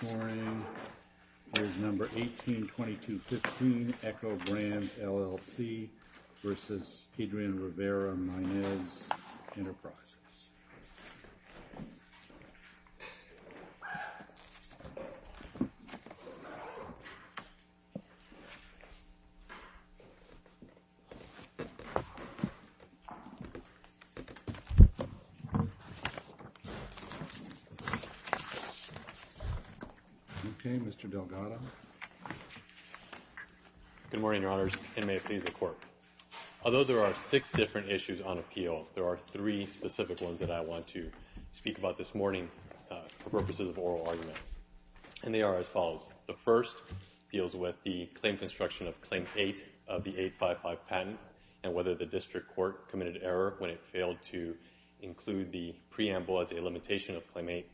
Scoring is number 18-2215, Eko Brands, LLC v. Adrian Rivera Maynez Enterprises. Okay, Mr. Delgado. Good morning, Your Honors, and may it please the Court. Although there are six different issues on appeal, there are three specific ones that I want to speak about this morning for purposes of oral arguments. And they are as follows. The first deals with the claim construction of Claim 8 of the 855 patent and whether the district court committed error when it failed to include the preamble as a limitation of Claim 8.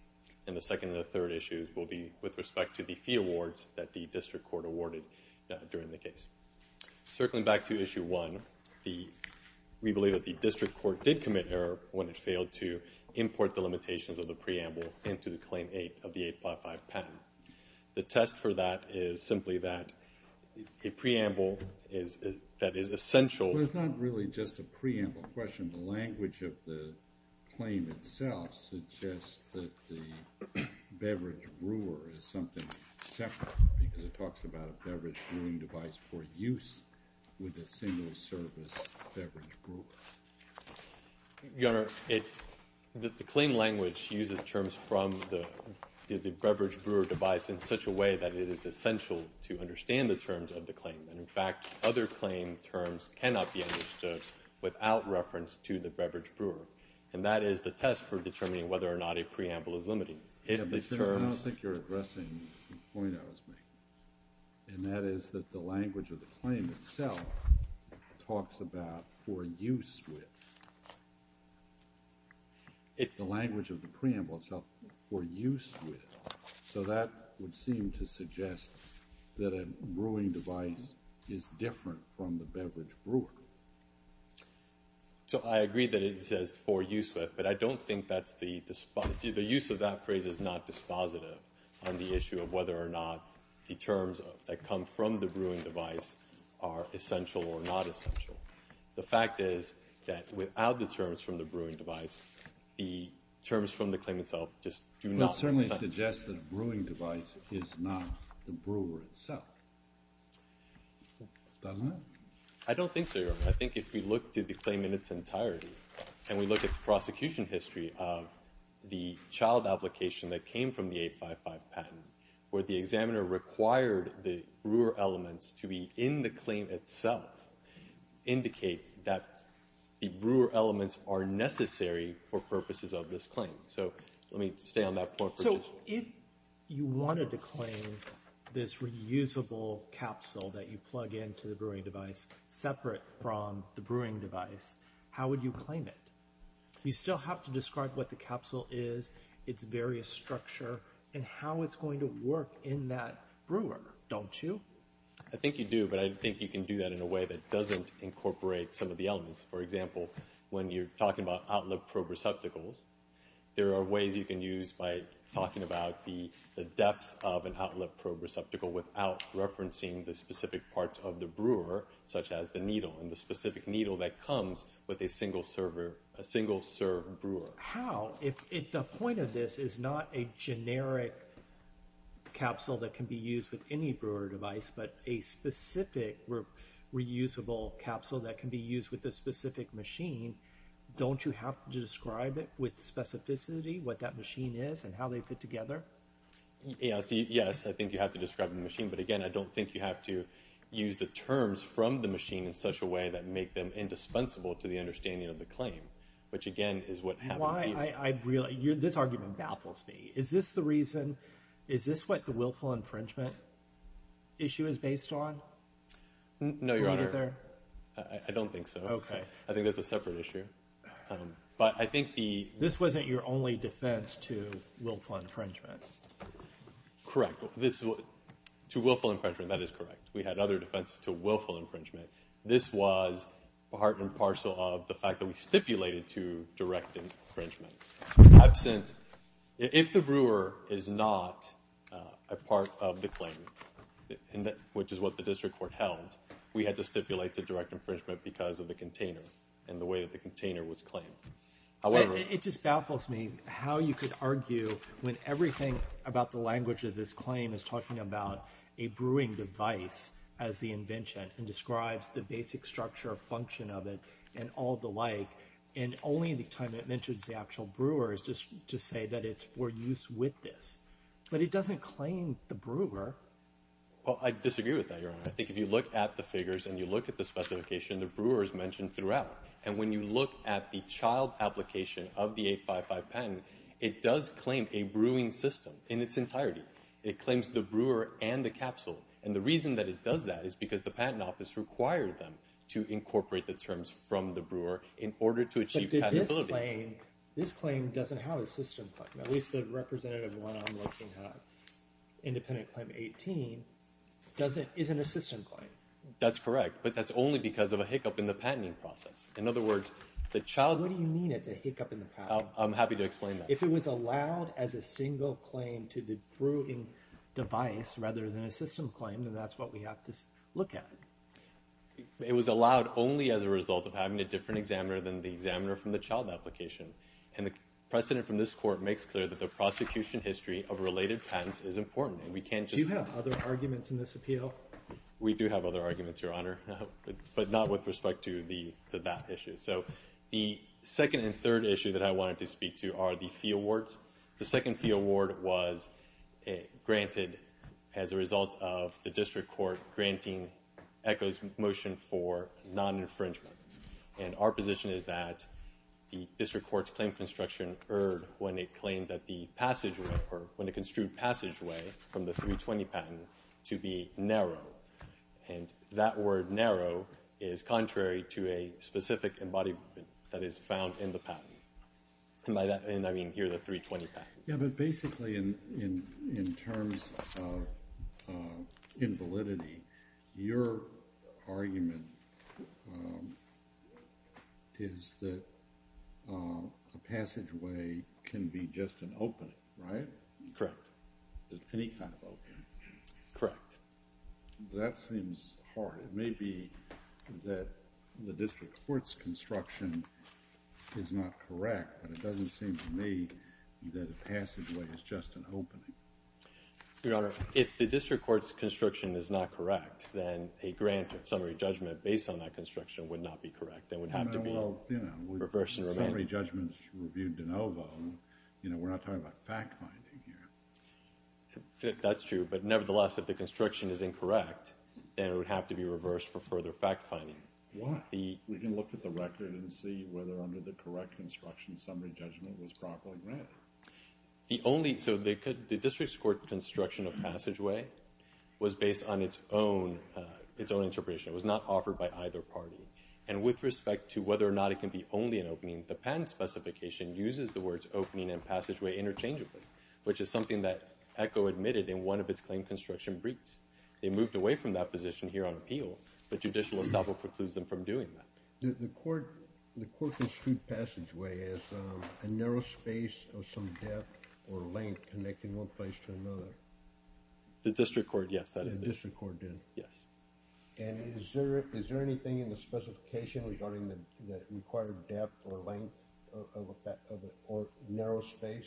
And the second and third issues will be with respect to the fee awards that the district court awarded during the case. Circling back to Issue 1, we believe that the district court did commit error when it failed to import the limitations of the preamble into the Claim 8 of the 855 patent. The test for that is simply that a preamble that is essential... The claim language uses terms from the beverage brewer device in such a way that it is essential to understand the terms of the claim. And in fact, other claim terms cannot be understood without reference to the beverage brewer. And that is the test for determining whether or not a preamble is limiting. I don't think you're addressing the point I was making. And that is that the language of the claim itself talks about for use with. The language of the preamble itself, for use with. So that would seem to suggest that a brewing device is different from the beverage brewer. So I agree that it says for use with, but I don't think that's the description of the preamble. The use of that phrase is not dispositive on the issue of whether or not the terms that come from the brewing device are essential or not essential. The fact is that without the terms from the brewing device, the terms from the claim itself just do not... Well, it certainly suggests that a brewing device is not the brewer itself. Doesn't it? I don't think so, Your Honor. I think if we look to the claim in its entirety and we look at the prosecution history of the child application that came from the 855 patent, where the examiner required the brewer elements to be in the claim itself, indicate that the brewer elements are necessary for purposes of this claim. So let me stay on that point. So if you wanted to claim this reusable capsule that you plug into the brewing device separate from the brewing device, how would you claim it? You still have to describe what the capsule is, its various structure, and how it's going to work in that brewer, don't you? I think you do, but I think you can do that in a way that doesn't incorporate some of the elements. For example, when you're talking about outlet probe receptacles, there are ways you can use by talking about the depth of an outlet probe receptacle without referencing the specific parts of the brewer, such as the needle and the specific needle that comes with a single-serve brewer. How? The point of this is not a generic capsule that can be used with any brewer device, but a specific reusable capsule that can be used with a specific machine. Don't you have to describe it with specificity, what that machine is and how they fit together? Yes, I think you have to describe the machine, but again, I don't think you have to use the terms from the machine in such a way that make them indispensable to the understanding of the claim, which again is what happened here. This argument baffles me. Is this what the willful infringement issue is based on? No, Your Honor. I don't think so. I think that's a separate issue. This wasn't your only defense to willful infringement. Correct. To willful infringement, that is correct. We had other defenses to willful infringement. This was part and parcel of the fact that we stipulated to direct infringement. If the brewer is not a part of the claim, which is what the district court held, we had to stipulate to direct infringement because of the container and the way that the container was claimed. It just baffles me how you could argue when everything about the language of this claim is talking about a brewing device as the invention and describes the basic structure or function of it and all the like, and only the time it mentions the actual brewer is just to say that it's for use with this. But it doesn't claim the brewer. Well, I disagree with that, Your Honor. I think if you look at the figures and you look at the specification, the brewer is mentioned throughout. And when you look at the child application of the 855 patent, it does claim a brewing system in its entirety. It claims the brewer and the capsule. And the reason that it does that is because the patent office required them to incorporate the terms from the brewer in order to achieve patentability. But this claim doesn't have a system claim. At least the representative one I'm looking at, Independent Claim 18, isn't a system claim. That's correct. But that's only because of a hiccup in the patenting process. In other words, the child... What do you mean it's a hiccup in the patent? I'm happy to explain that. If it was allowed as a single claim to the brewing device rather than a system claim, then that's what we have to look at. It was allowed only as a result of having a different examiner than the examiner from the child application. And the precedent from this court makes clear that the prosecution history of related patents is important. Do you have other arguments in this appeal? We do have other arguments, Your Honor, but not with respect to that issue. The second and third issue that I wanted to speak to are the fee awards. The second fee award was granted as a result of the district court granting ECHO's motion for non-infringement. And our position is that the district court's claim construction erred when it claimed that the passageway, or when it construed passageway from the 320 patent to be narrow. And that word narrow is contrary to a specific embodiment that is found in the patent. And by that I mean here the 320 patent. Yeah, but basically in terms of invalidity, your argument is that a passageway can be just an opening, right? Correct. Any kind of opening. Correct. That seems hard. It may be that the district court's construction is not correct, but it doesn't seem to me that a passageway is just an opening. Your Honor, if the district court's construction is not correct, then a grant of summary judgment based on that construction would not be correct. It would have to be reversed and remanded. Summary judgments were viewed de novo. We're not talking about fact-finding here. That's true, but nevertheless, if the construction is incorrect, then it would have to be reversed for further fact-finding. Why? We can look at the record and see whether under the correct construction, summary judgment was properly granted. The district court's construction of passageway was based on its own interpretation. It was not offered by either party. And with respect to whether or not it can be only an opening, the patent specification uses the words opening and passageway interchangeably, which is something that ECHO admitted in one of its claim construction briefs. They moved away from that position here on appeal, but judicial estoppel precludes them from doing that. The court construed passageway as a narrow space of some depth or length connecting one place to another. The district court, yes. The district court did. Yes. And is there anything in the specification regarding the required depth or length or narrow space?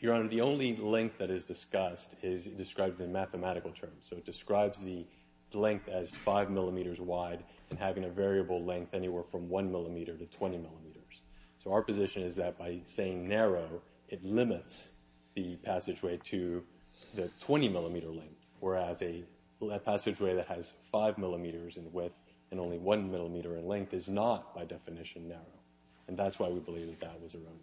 Your Honor, the only length that is discussed is described in mathematical terms. So it describes the length as 5 millimeters wide and having a variable length anywhere from 1 millimeter to 20 millimeters. So our position is that by saying narrow, it limits the passageway to the 20 millimeter length, whereas a passageway that has 5 millimeters in width and only 1 millimeter in length is not by definition narrow. And that's why we believe that that was a remnant.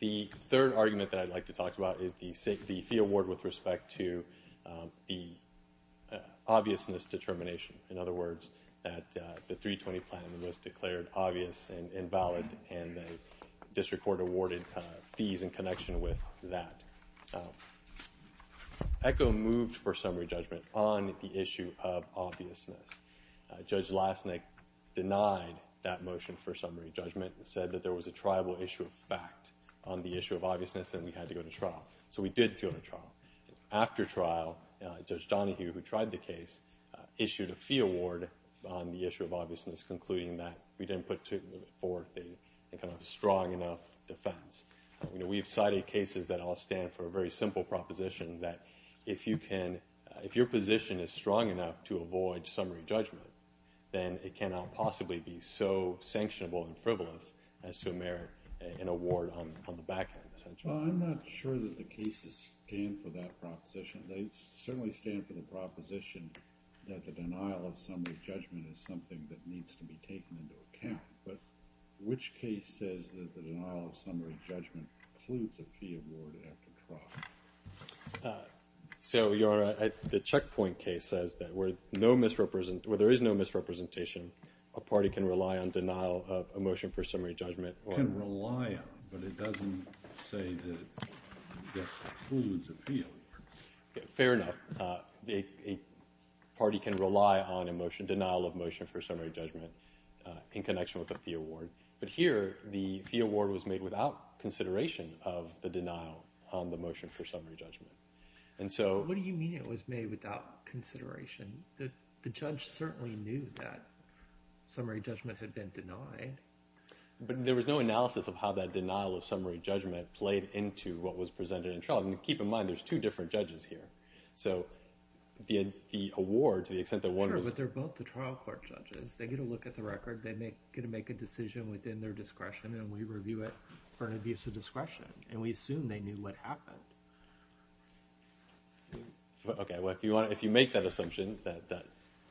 The third argument that I'd like to talk about is the fee award with respect to the obviousness determination. In other words, that the 320 plan was declared obvious and valid, and the district court awarded fees in connection with that. ECHO moved for summary judgment on the issue of obviousness. Judge Lasnik denied that motion for summary judgment and said that there was a triable issue of fact on the issue of obviousness and we had to go to trial. So we did go to trial. After trial, Judge Donahue, who tried the case, issued a fee award on the issue of obviousness, concluding that we didn't put forth a strong enough defense. We have cited cases that all stand for a very simple proposition, that if your position is strong enough to avoid summary judgment, then it cannot possibly be so sanctionable and frivolous as to merit an award on the back end, essentially. I'm not sure that the cases stand for that proposition. They certainly stand for the proposition that the denial of summary judgment is something that needs to be taken into account. But which case says that the denial of summary judgment includes a fee award after trial? So the checkpoint case says that where there is no misrepresentation, a party can rely on denial of a motion for summary judgment. Can rely on, but it doesn't say that it includes a fee award. Fair enough. A party can rely on a denial of motion for summary judgment in connection with a fee award. But here, the fee award was made without consideration of the denial on the motion for summary judgment. What do you mean it was made without consideration? The judge certainly knew that summary judgment had been denied. But there was no analysis of how that denial of summary judgment played into what was presented in trial. And keep in mind, there's two different judges here. So the award, to the extent that one was- Sure, but they're both the trial court judges. They get a look at the record. They get to make a decision within their discretion, and we review it for an abuse of discretion. And we assume they knew what happened. Okay. Well, if you make that assumption, that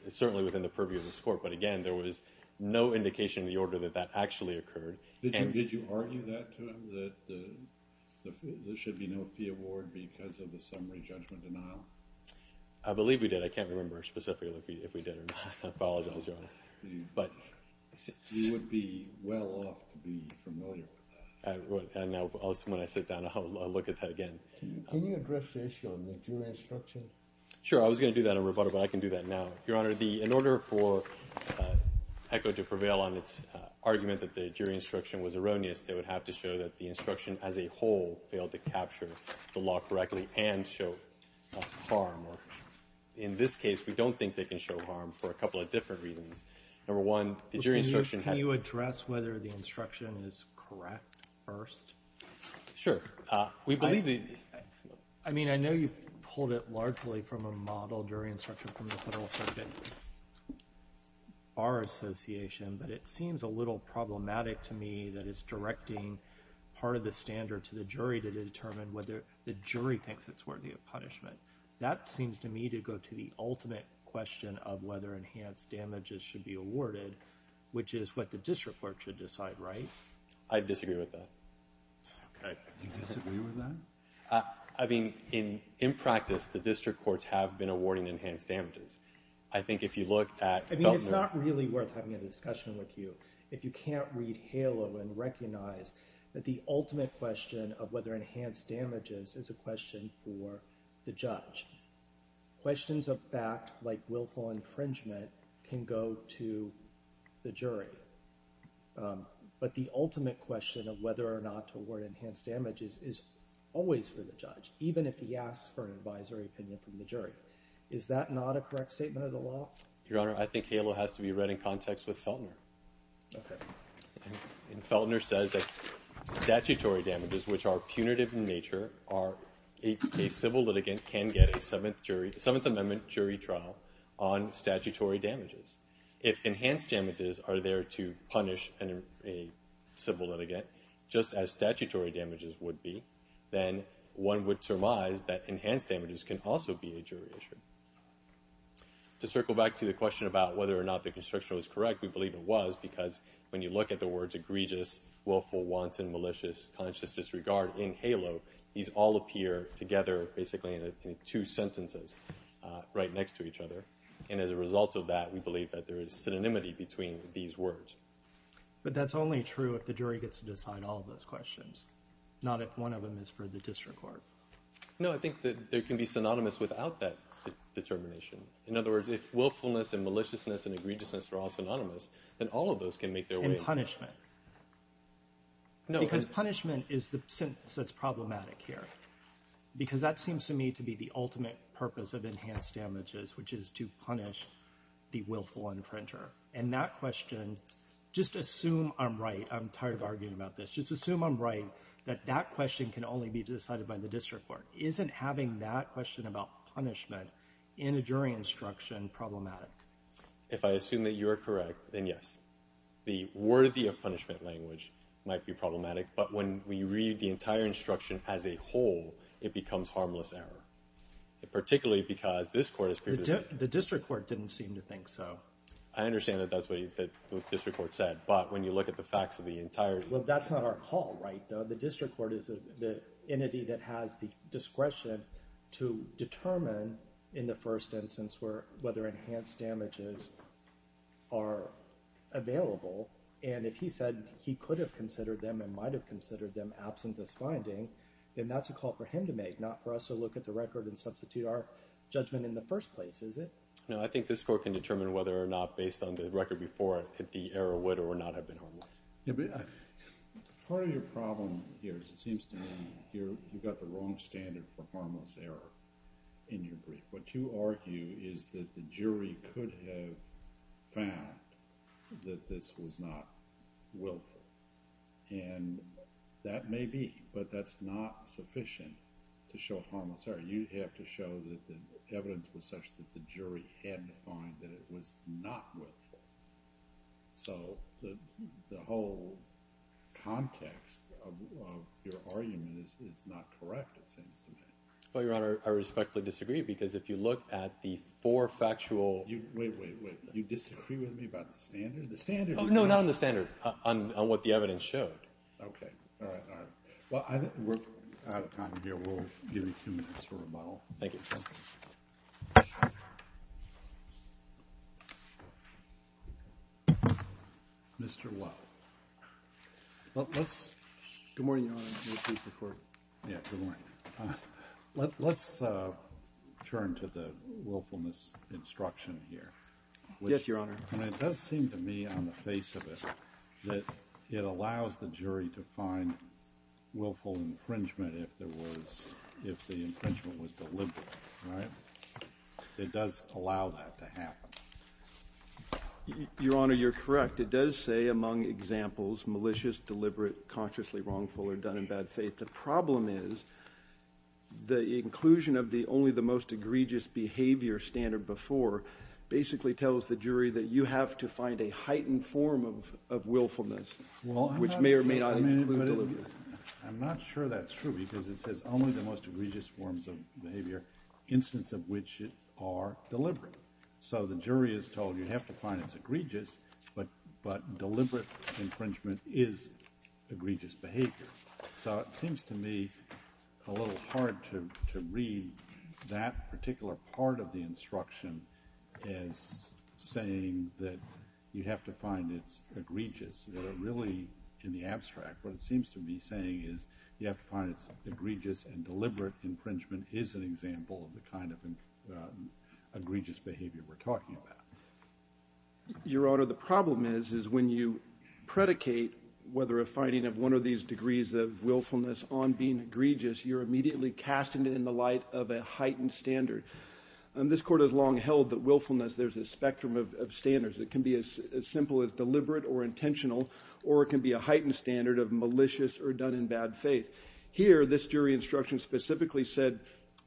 is certainly within the purview of this court. But again, there was no indication in the order that that actually occurred. Did you argue that to him, that there should be no fee award because of the summary judgment denial? I believe we did. I can't remember specifically if we did or not. I apologize, Your Honor. You would be well off to be familiar with that. I would. And when I sit down, I'll look at that again. Can you address the issue on the jury instruction? Sure. I was going to do that in rebuttal, but I can do that now. Your Honor, in order for ECHO to prevail on its argument that the jury instruction was erroneous, they would have to show that the instruction as a whole failed to capture the law correctly and show harm. In this case, we don't think they can show harm for a couple of different reasons. Number one, the jury instruction- Can you address whether the instruction is correct first? Sure. I mean, I know you pulled it largely from a model jury instruction from the Federal Circuit Bar Association, but it seems a little problematic to me that it's directing part of the standard to the jury to determine whether the jury thinks it's worthy of punishment. That seems to me to go to the ultimate question of whether enhanced damages should be awarded, which is what the district court should decide, right? I disagree with that. Okay. You disagree with that? I mean, in practice, the district courts have been awarding enhanced damages. I think if you look at- I mean, it's not really worth having a discussion with you if you can't read HALO and recognize that the ultimate question of whether enhanced damages is a question for the judge. Questions of fact, like willful infringement, can go to the jury. But the ultimate question of whether or not to award enhanced damages is always for the judge, even if he asks for an advisory opinion from the jury. Is that not a correct statement of the law? Your Honor, I think HALO has to be read in context with Feltner. Okay. And Feltner says that statutory damages, which are punitive in nature, a civil litigant can get a Seventh Amendment jury trial on statutory damages. If enhanced damages are there to punish a civil litigant, just as statutory damages would be, then one would surmise that enhanced damages can also be a jury issue. To circle back to the question about whether or not the constriction was correct, we believe it was because when you look at the words egregious, willful, wanton, malicious, conscious disregard in HALO, these all appear together basically in two sentences right next to each other. And as a result of that, we believe that there is synonymity between these words. But that's only true if the jury gets to decide all of those questions, not if one of them is for the district court. No, I think that there can be synonymous without that determination. In other words, if willfulness and maliciousness and egregiousness are all synonymous, then all of those can make their way in. And punishment. Because punishment is the sentence that's problematic here. Because that seems to me to be the ultimate purpose of enhanced damages, which is to punish the willful infringer. And that question, just assume I'm right. I'm tired of arguing about this. Just assume I'm right that that question can only be decided by the district court. Isn't having that question about punishment in a jury instruction problematic? If I assume that you are correct, then yes. The worthy of punishment language might be problematic. But when we read the entire instruction as a whole, it becomes harmless error. Particularly because this court has previously – The district court didn't seem to think so. I understand that that's what the district court said. But when you look at the facts of the entire – Well, that's not our call, right, though. The district court is the entity that has the discretion to determine in the first instance whether enhanced damages are available. And if he said he could have considered them and might have considered them absent this finding, then that's a call for him to make, not for us to look at the record and substitute our judgment in the first place, is it? No, I think this court can determine whether or not, based on the record before it, that the error would or would not have been harmless. Part of your problem here is it seems to me you've got the wrong standard for harmless error in your brief. What you argue is that the jury could have found that this was not willful. And that may be, but that's not sufficient to show harmless error. You have to show that the evidence was such that the jury had to find that it was not willful. So the whole context of your argument is not correct, it seems to me. Well, Your Honor, I respectfully disagree because if you look at the four factual – Wait, wait, wait. You disagree with me about the standard? The standard is – No, not on the standard, on what the evidence showed. Okay. All right, all right. Well, I think we're out of time here. We'll give you two minutes for rebuttal. Thank you. Mr. Weld. Let's – good morning, Your Honor. May it please the Court. Yeah, good morning. Let's turn to the willfulness instruction here. Yes, Your Honor. And it does seem to me on the face of it that it allows the jury to find willful infringement if there was – if the infringement was deliberate, right? It does allow that to happen. Your Honor, you're correct. It does say among examples, malicious, deliberate, consciously wrongful, or done in bad faith. But the problem is the inclusion of the only the most egregious behavior standard before basically tells the jury that you have to find a heightened form of willfulness, which may or may not be deliberate. I'm not sure that's true because it says only the most egregious forms of behavior, instances of which are deliberate. So the jury is told you have to find it's egregious, but deliberate infringement is egregious behavior. So it seems to me a little hard to read that particular part of the instruction as saying that you have to find it's egregious. Really, in the abstract, what it seems to be saying is you have to find it's egregious, and deliberate infringement is an example of the kind of egregious behavior we're talking about. Your Honor, the problem is when you predicate whether a finding of one of these degrees of willfulness on being egregious, you're immediately casting it in the light of a heightened standard. This Court has long held that willfulness, there's a spectrum of standards. It can be as simple as deliberate or intentional, or it can be a heightened standard of malicious or done in bad faith. Here, this jury instruction specifically said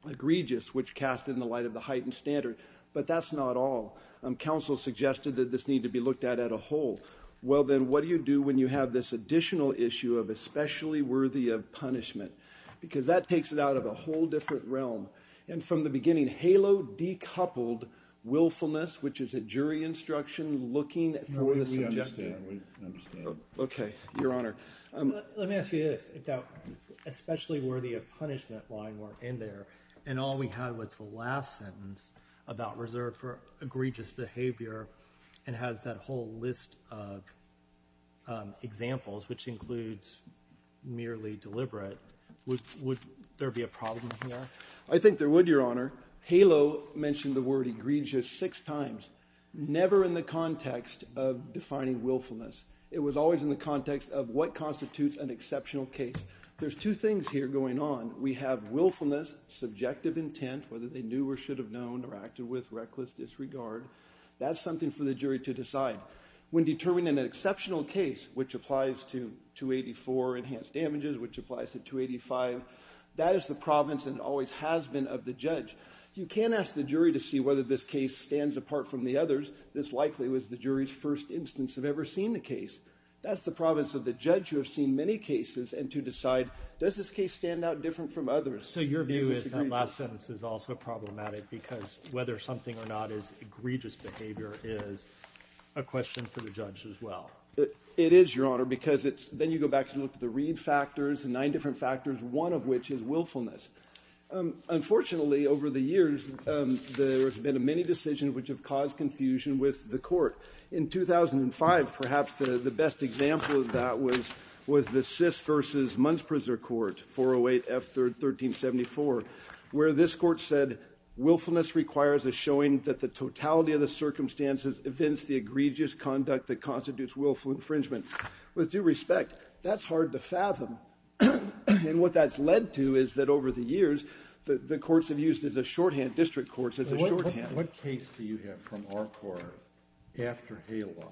egregious, which cast it in the light of the heightened standard. But that's not all. Counsel suggested that this need to be looked at as a whole. Well, then what do you do when you have this additional issue of especially worthy of punishment? Because that takes it out of a whole different realm. And from the beginning, HALO decoupled willfulness, which is a jury instruction looking for the subjective. We understand. We understand. Okay. Your Honor. Let me ask you this. If that especially worthy of punishment line were in there and all we had was the last sentence about reserved for egregious behavior and has that whole list of examples, which includes merely deliberate, would there be a problem here? I think there would, Your Honor. HALO mentioned the word egregious six times, never in the context of defining willfulness. It was always in the context of what constitutes an exceptional case. There's two things here going on. We have willfulness, subjective intent, whether they knew or should have known or acted with reckless disregard. That's something for the jury to decide. When determining an exceptional case, which applies to 284 enhanced damages, which applies to 285, that is the province and always has been of the judge. You can ask the jury to see whether this case stands apart from the others. This likely was the jury's first instance of ever seeing the case. That's the province of the judge who have seen many cases and to decide, does this case stand out different from others? So your view is that last sentence is also problematic because whether something or not is egregious behavior is a question for the judge as well. It is, Your Honor, because it's then you go back and look at the read factors and nine different factors, one of which is willfulness. Unfortunately, over the years, there have been many decisions which have caused confusion with the court. In 2005, perhaps the best example of that was the Sisk v. Munsprizer Court, 408 F. 1374, where this court said willfulness requires a showing that the totality of the circumstances evince the egregious conduct that constitutes willful infringement. With due respect, that's hard to fathom. And what that's led to is that over the years, the courts have used as a shorthand, district courts as a shorthand. What case do you have from our court after HALO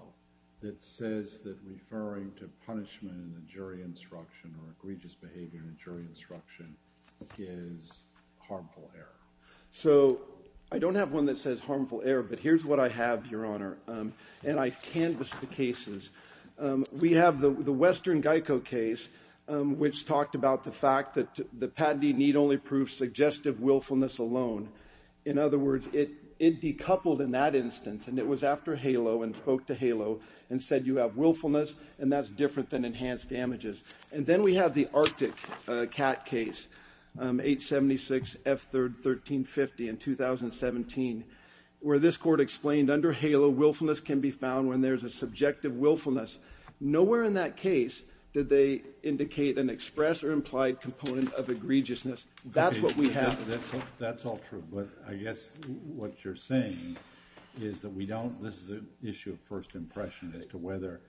that says that referring to punishment in a jury instruction or egregious behavior in a jury instruction is harmful error? So I don't have one that says harmful error, but here's what I have, Your Honor, and I canvassed the cases. We have the Western Geico case, which talked about the fact that the patentee need only prove suggestive willfulness alone. In other words, it decoupled in that instance, and it was after HALO and spoke to HALO and said you have willfulness, and that's different than enhanced damages. And then we have the Arctic Cat case, 876F1350 in 2017, where this court explained under HALO willfulness can be found when there's a subjective willfulness. Nowhere in that case did they indicate an express or implied component of egregiousness. That's what we have. That's all true, but I guess what you're saying is that we don't – this is an issue of first impression as to whether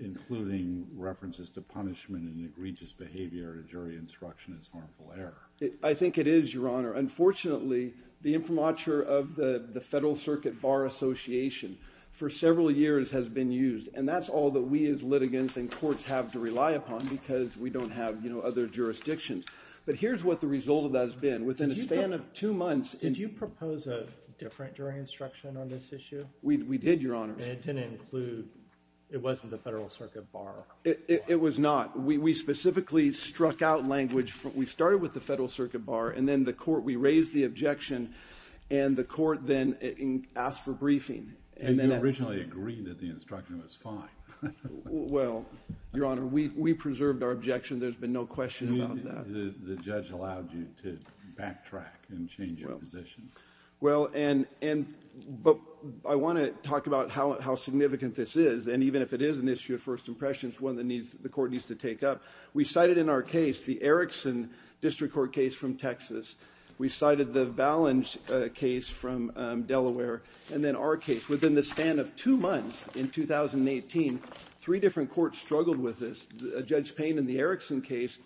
including references to punishment and egregious behavior in a jury instruction is harmful error. I think it is, Your Honor. Unfortunately, the imprimatur of the Federal Circuit Bar Association for several years has been used, and that's all that we as litigants and courts have to rely upon because we don't have other jurisdictions. But here's what the result of that has been. Within a span of two months – Did you propose a different jury instruction on this issue? We did, Your Honor. And it didn't include – it wasn't the Federal Circuit Bar. It was not. We specifically struck out language. We started with the Federal Circuit Bar, and then the court – we raised the objection, and the court then asked for briefing. And you originally agreed that the instruction was fine. Well, Your Honor, we preserved our objection. There's been no question about that. The judge allowed you to backtrack and change your position. Well, and – but I want to talk about how significant this is, and even if it is an issue of first impression, it's one that needs – the court needs to take up. We cited in our case the Erickson District Court case from Texas. We cited the Ballenge case from Delaware. And then our case. Within the span of two months in 2018, three different courts struggled with this. Judge Payne in the Erickson case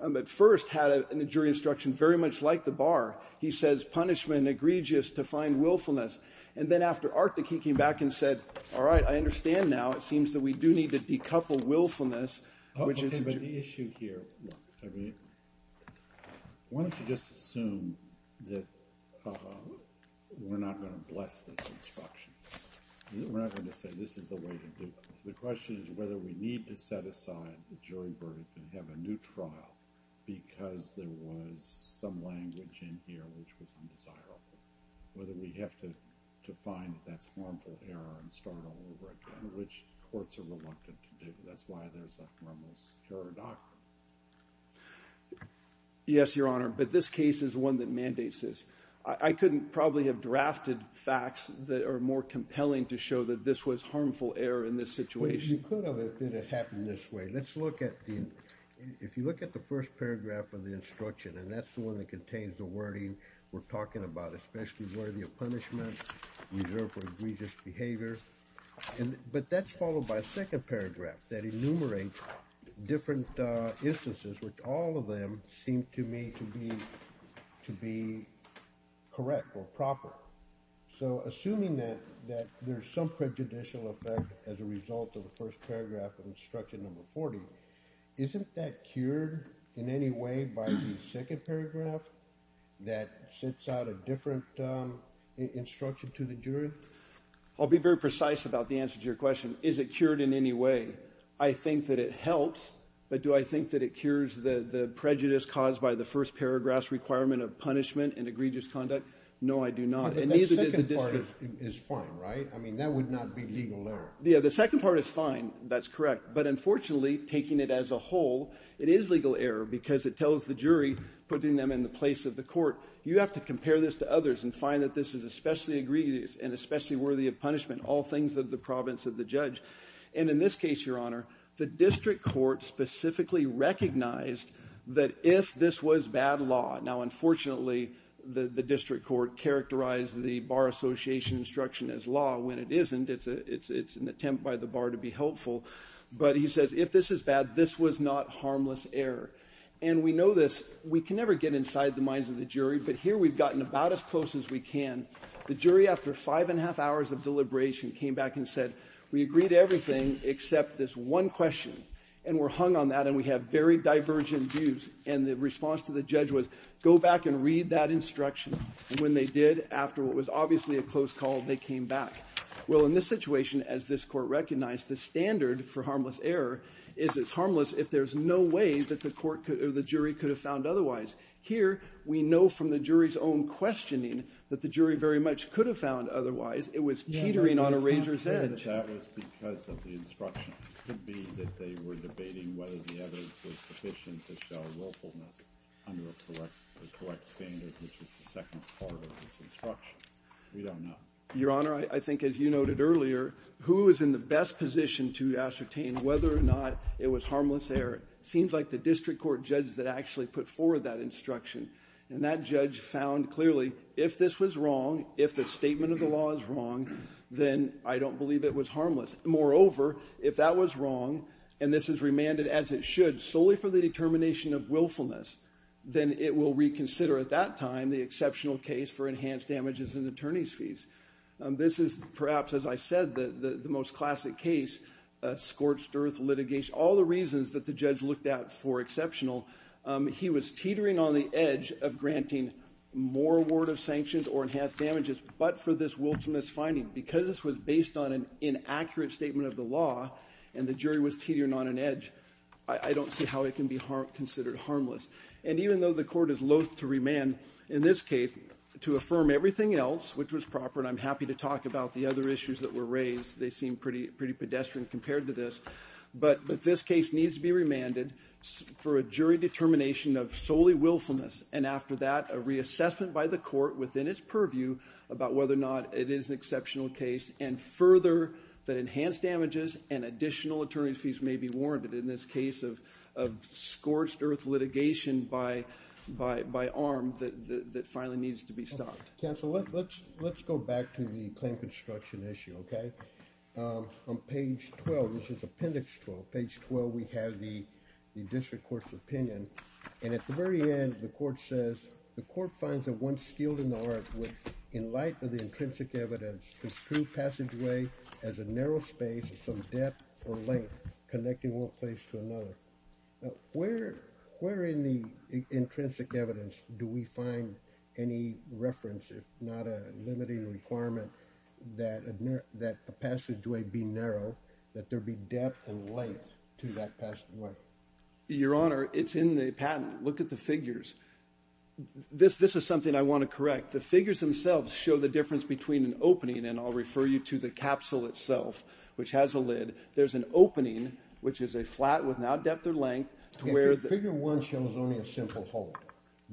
at first had a jury instruction very much like the Bar. He says, punishment egregious to find willfulness. And then after Arctic, he came back and said, all right, I understand now. It seems that we do need to decouple willfulness, which is – The issue here – I mean, why don't you just assume that we're not going to bless this instruction? We're not going to say this is the way to do it. The question is whether we need to set aside the jury verdict and have a new trial because there was some language in here which was undesirable, whether we have to find that that's harmful error and start all over again, which courts are reluctant to do. That's why there's a harmless juror doctrine. Yes, Your Honor, but this case is one that mandates this. I couldn't probably have drafted facts that are more compelling to show that this was harmful error in this situation. Well, you could have if it had happened this way. Let's look at the – if you look at the first paragraph of the instruction, and that's the one that contains the wording we're talking about, especially worthy of punishment, reserved for egregious behavior. But that's followed by a second paragraph that enumerates different instances, which all of them seem to me to be correct or proper. So assuming that there's some prejudicial effect as a result of the first paragraph of instruction number 40, isn't that cured in any way by the second paragraph that sets out a different instruction to the jury? I'll be very precise about the answer to your question. Is it cured in any way? I think that it helps, but do I think that it cures the prejudice caused by the first paragraph's requirement of punishment and egregious conduct? No, I do not. But that second part is fine, right? I mean, that would not be legal error. Yeah, the second part is fine. That's correct. But unfortunately, taking it as a whole, it is legal error because it tells the jury, putting them in the place of the court, you have to compare this to others and find that this is especially egregious and especially worthy of punishment, all things of the province of the judge. And in this case, Your Honor, the district court specifically recognized that if this was bad law. Now, unfortunately, the district court characterized the Bar Association instruction as law when it isn't. It's an attempt by the bar to be helpful. But he says if this is bad, this was not harmless error. And we know this. We can never get inside the minds of the jury. But here we've gotten about as close as we can. The jury, after five and a half hours of deliberation, came back and said, we agree to everything except this one question. And we're hung on that. And we have very divergent views. And the response to the judge was, go back and read that instruction. And when they did, after what was obviously a close call, they came back. Well, in this situation, as this court recognized, the standard for harmless error is it's harmless if there's no way that the jury could have found otherwise. Here, we know from the jury's own questioning that the jury very much could have found otherwise. It was teetering on a razor's edge. That was because of the instruction. It could be that they were debating whether the evidence was sufficient to show willfulness under a correct standard, which is the second part of this instruction. We don't know. Your Honor, I think as you noted earlier, who is in the best position to ascertain whether or not it was harmless error? It seems like the district court judge that actually put forward that instruction. And that judge found clearly, if this was wrong, if the statement of the law is wrong, then I don't believe it was harmless. Moreover, if that was wrong, and this is remanded as it should solely for the determination of willfulness, then it will reconsider at that time the exceptional case for enhanced damages and attorney's fees. This is perhaps, as I said, the most classic case, scorched earth litigation. All the reasons that the judge looked at for exceptional, he was teetering on the edge of granting more award of sanctions or enhanced damages, but for this willfulness finding, because this was based on an inaccurate statement of the law and the jury was teetering on an edge, I don't see how it can be considered harmless. And even though the court is loath to remand in this case to affirm everything else, which was proper, and I'm happy to talk about the other issues that were raised, they seem pretty pedestrian compared to this, but this case needs to be remanded for a jury determination of solely willfulness, and after that, a reassessment by the court within its purview about whether or not it is an exceptional case, and further, that enhanced damages and additional attorney's fees may be warranted in this case of scorched earth litigation by arm that finally needs to be stopped. Counsel, let's go back to the claim construction issue, okay? On page 12, this is appendix 12, page 12 we have the district court's opinion, and at the very end, the court says, the court finds that one skilled in the art would, in light of the intrinsic evidence, construe passageway as a narrow space of some depth or length connecting one place to another. Where in the intrinsic evidence do we find any reference, if not a limiting requirement, that a passageway be narrow, that there be depth and length to that passageway? Your Honor, it's in the patent. Look at the figures. This is something I want to correct. The figures themselves show the difference between an opening, and I'll refer you to the capsule itself, which has a lid. There's an opening, which is a flat with no depth or length. Figure one shows only a simple hole.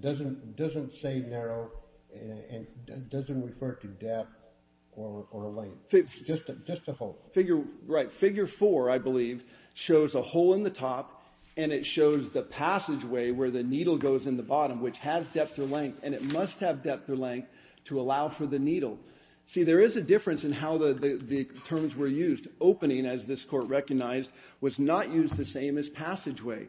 It doesn't say narrow, and it doesn't refer to depth or length, just a hole. Figure four, I believe, shows a hole in the top, and it shows the passageway where the needle goes in the bottom, which has depth or length, and it must have depth or length to allow for the needle. See, there is a difference in how the terms were used. Opening, as this court recognized, was not used the same as passageway,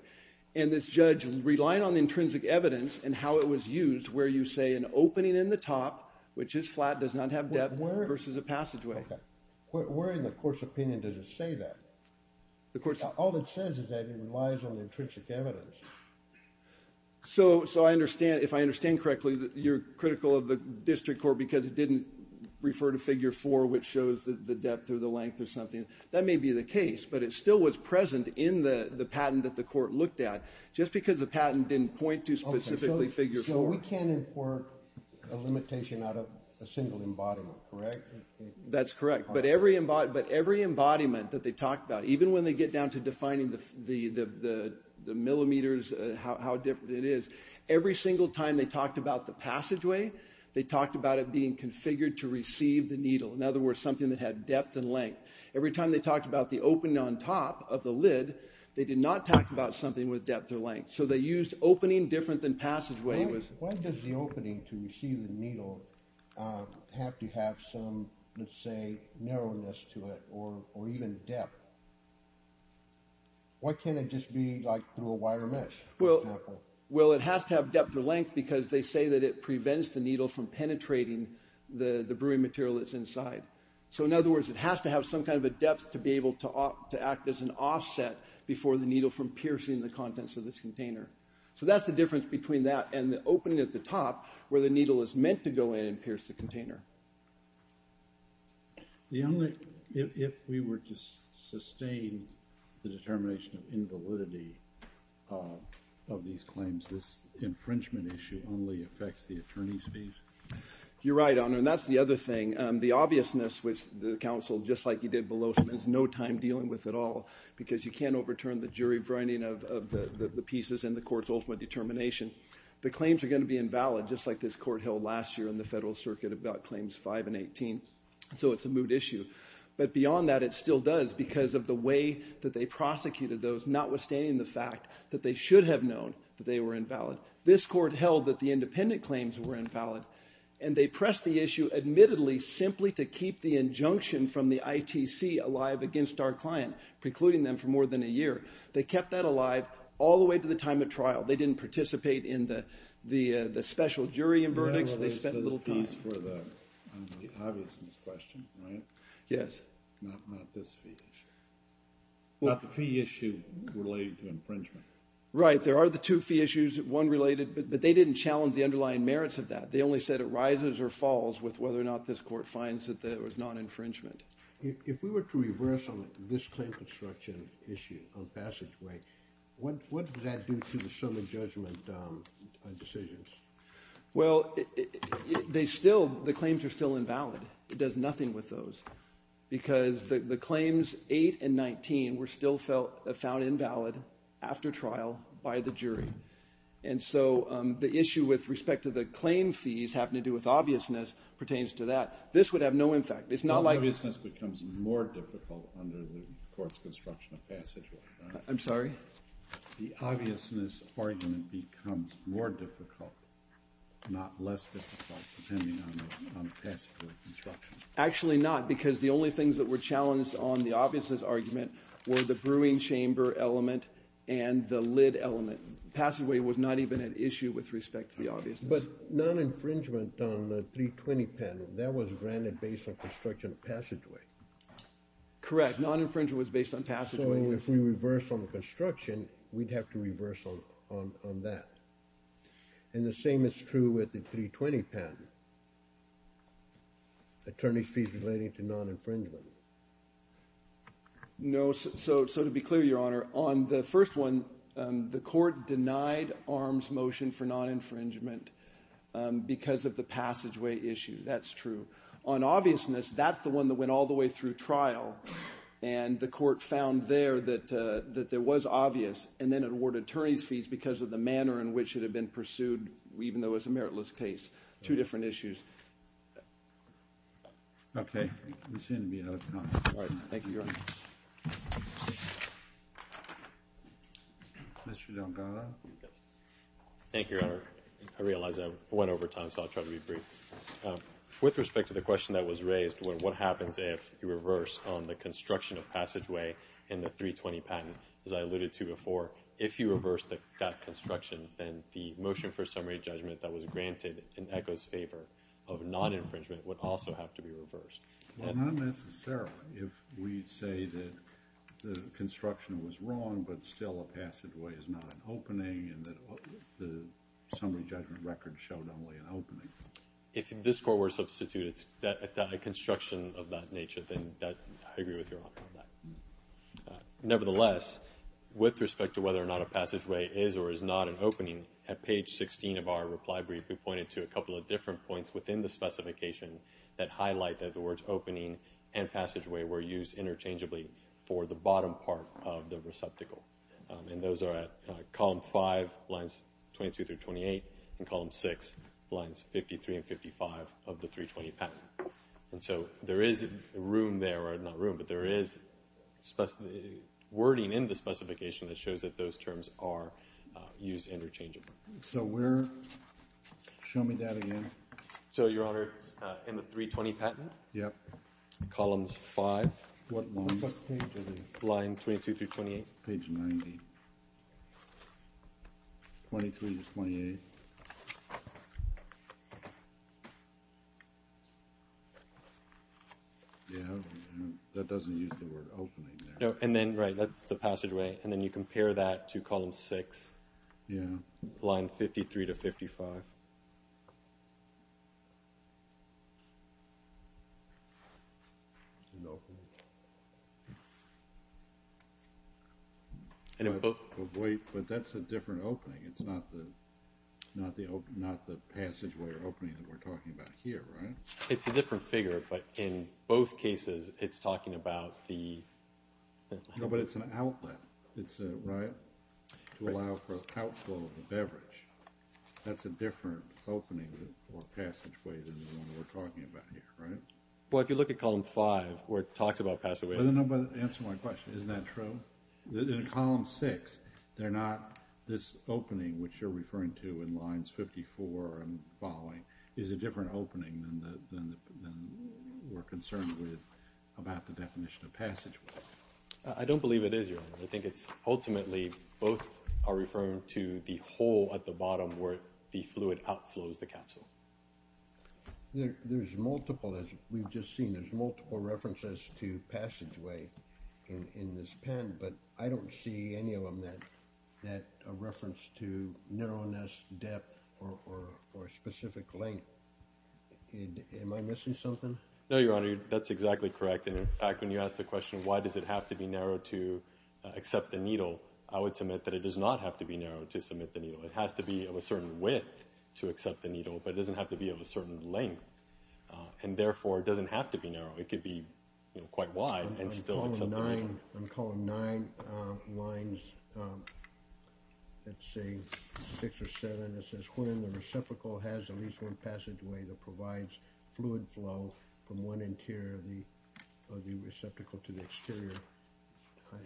and this judge, relying on the intrinsic evidence and how it was used, where you say an opening in the top, which is flat, does not have depth, versus a passageway. Where in the court's opinion does it say that? All it says is that it relies on the intrinsic evidence. So I understand, if I understand correctly, that you're critical of the district court because it didn't refer to figure four, which shows the depth or the length or something. That may be the case, but it still was present in the patent that the court looked at, just because the patent didn't point to specifically figure four. So we can't import a limitation out of a single embodiment, correct? That's correct, but every embodiment that they talked about, even when they get down to defining the millimeters, how different it is, every single time they talked about the passageway, they talked about it being configured to receive the needle. In other words, something that had depth and length. Every time they talked about the opening on top of the lid, they did not talk about something with depth or length. So they used opening different than passageway. Why does the opening to receive the needle have to have some, let's say, narrowness to it or even depth? Why can't it just be like through a wire mesh, for example? Well, it has to have depth or length because they say that it prevents the needle from penetrating the brewing material that's inside. So in other words, it has to have some kind of a depth to be able to act as an offset before the needle from piercing the contents of this container. So that's the difference between that and the opening at the top where the needle is meant to go in and pierce the container. If we were to sustain the determination of invalidity of these claims, this infringement issue only affects the attorney's fees? You're right, Honor, and that's the other thing. The obviousness, which the counsel, just like you did below, has no time dealing with at all because you can't overturn the jury brining of the pieces and the court's ultimate determination. The claims are going to be invalid, just like this court held last year in the Federal Circuit about Claims 5 and 18. So it's a moot issue. But beyond that, it still does because of the way that they prosecuted those, notwithstanding the fact that they should have known that they were invalid. This court held that the independent claims were invalid, and they pressed the issue admittedly simply to keep the injunction from the ITC alive against our client, precluding them for more than a year. They kept that alive all the way to the time of trial. They didn't participate in the special jury and verdicts. They spent little time. The fees for the obviousness question, right? Yes. Not this fee issue. Not the fee issue related to infringement. Right. There are the two fee issues, one related, but they didn't challenge the underlying merits of that. They only said it rises or falls with whether or not this court finds that there was non-infringement. If we were to reverse on this claim construction issue on passageway, what does that do to the summary judgment decisions? Well, they still – the claims are still invalid. It does nothing with those because the claims 8 and 19 were still found invalid after trial by the jury. And so the issue with respect to the claim fees having to do with obviousness pertains to that. This would have no impact. It's not like – The obviousness becomes more difficult under the court's construction of passageway. I'm sorry? The obviousness argument becomes more difficult, not less difficult depending on the passageway construction. Actually not because the only things that were challenged on the obviousness argument were the brewing chamber element and the lid element. Passageway was not even at issue with respect to the obviousness. But non-infringement on the 320 patent, that was granted based on construction of passageway. Correct. Non-infringement was based on passageway. So if we reverse on the construction, we'd have to reverse on that. And the same is true with the 320 patent. Attorney's fees relating to non-infringement. No, so to be clear, Your Honor, on the first one, the court denied arms motion for non-infringement because of the passageway issue. That's true. On obviousness, that's the one that went all the way through trial, and the court found there that there was obvious, and then it awarded attorney's fees because of the manner in which it had been pursued, even though it was a meritless case. Two different issues. Okay. We seem to be out of time. All right. Thank you, Your Honor. Mr. Delgado. Thank you, Your Honor. I realize I went over time, so I'll try to be brief. With respect to the question that was raised, what happens if you reverse on the construction of passageway in the 320 patent? As I alluded to before, if you reverse that construction, then the motion for summary judgment that was granted in ECHO's favor of non-infringement would also have to be reversed. Well, not necessarily. If we say that the construction was wrong, but still a passageway is not an opening and that the summary judgment record showed only an opening. If this court were to substitute a construction of that nature, then I agree with Your Honor on that. Nevertheless, with respect to whether or not a passageway is or is not an opening, at page 16 of our reply brief, we pointed to a couple of different points within the specification that highlight that the words opening and passageway were used interchangeably for the bottom part of the receptacle. And those are at column 5, lines 22 through 28, and column 6, lines 53 and 55 of the 320 patent. And so there is room there, or not room, but there is wording in the specification that shows that those terms are used interchangeably. So where? Show me that again. So, Your Honor, in the 320 patent? Yep. Columns 5? What page is it? Line 22 through 28. Page 90. 22 to 28. Yeah. That doesn't use the word opening there. And then, right, that's the passageway. And then you compare that to column 6. Yeah. Line 53 to 55. Wait, but that's a different opening. It's not the passageway or opening that we're talking about here, right? It's a different figure, but in both cases it's talking about the ---- No, but it's an outlet, right? To allow for the outflow of the beverage. That's a different opening or passageway than the one we're talking about here, right? Well, if you look at column 5 where it talks about passageways ---- Answer my question. Isn't that true? In column 6, they're not this opening, which you're referring to in lines 54 and following, is a different opening than we're concerned with about the definition of passageway. I don't believe it is, Your Honor. I think it's ultimately both are referring to the hole at the bottom where the fluid outflows the capsule. There's multiple, as we've just seen, there's multiple references to passageway in this pen, but I don't see any of them that reference to narrowness, depth, or specific length. Am I missing something? No, Your Honor, that's exactly correct. And, in fact, when you asked the question, why does it have to be narrow to accept the needle, I would submit that it does not have to be narrow to submit the needle. It has to be of a certain width to accept the needle, but it doesn't have to be of a certain length. And, therefore, it doesn't have to be narrow. It could be quite wide and still accept the needle. On column 9, lines, let's see, 6 or 7, it says, when the reciprocal has at least one passageway that provides fluid flow from one interior of the receptacle to the exterior.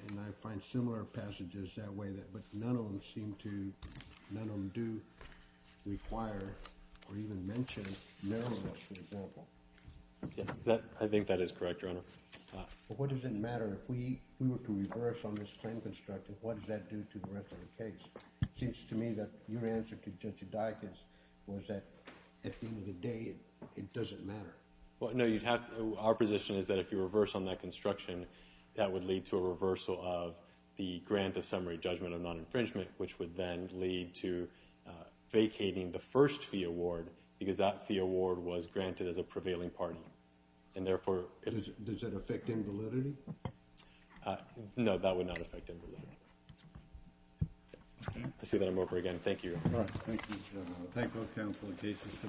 And I find similar passages that way, but none of them seem to, none of them do require or even mention narrowness, for example. Yes, I think that is correct, Your Honor. But what does it matter? If we were to reverse on this claim construction, what does that do to the rest of the case? It seems to me that your answer to Judge Eudakis was that at the end of the day it doesn't matter. Well, no. Our position is that if you reverse on that construction, that would lead to a reversal of the grant of summary judgment of non-infringement, which would then lead to vacating the first fee award because that fee award was granted as a prevailing party. And, therefore— Does that affect invalidity? No, that would not affect invalidity. Okay. I see that I'm over again. Thank you. All right. Thank you, Your Honor. I thank both counsel and cases. That concludes today's hearing.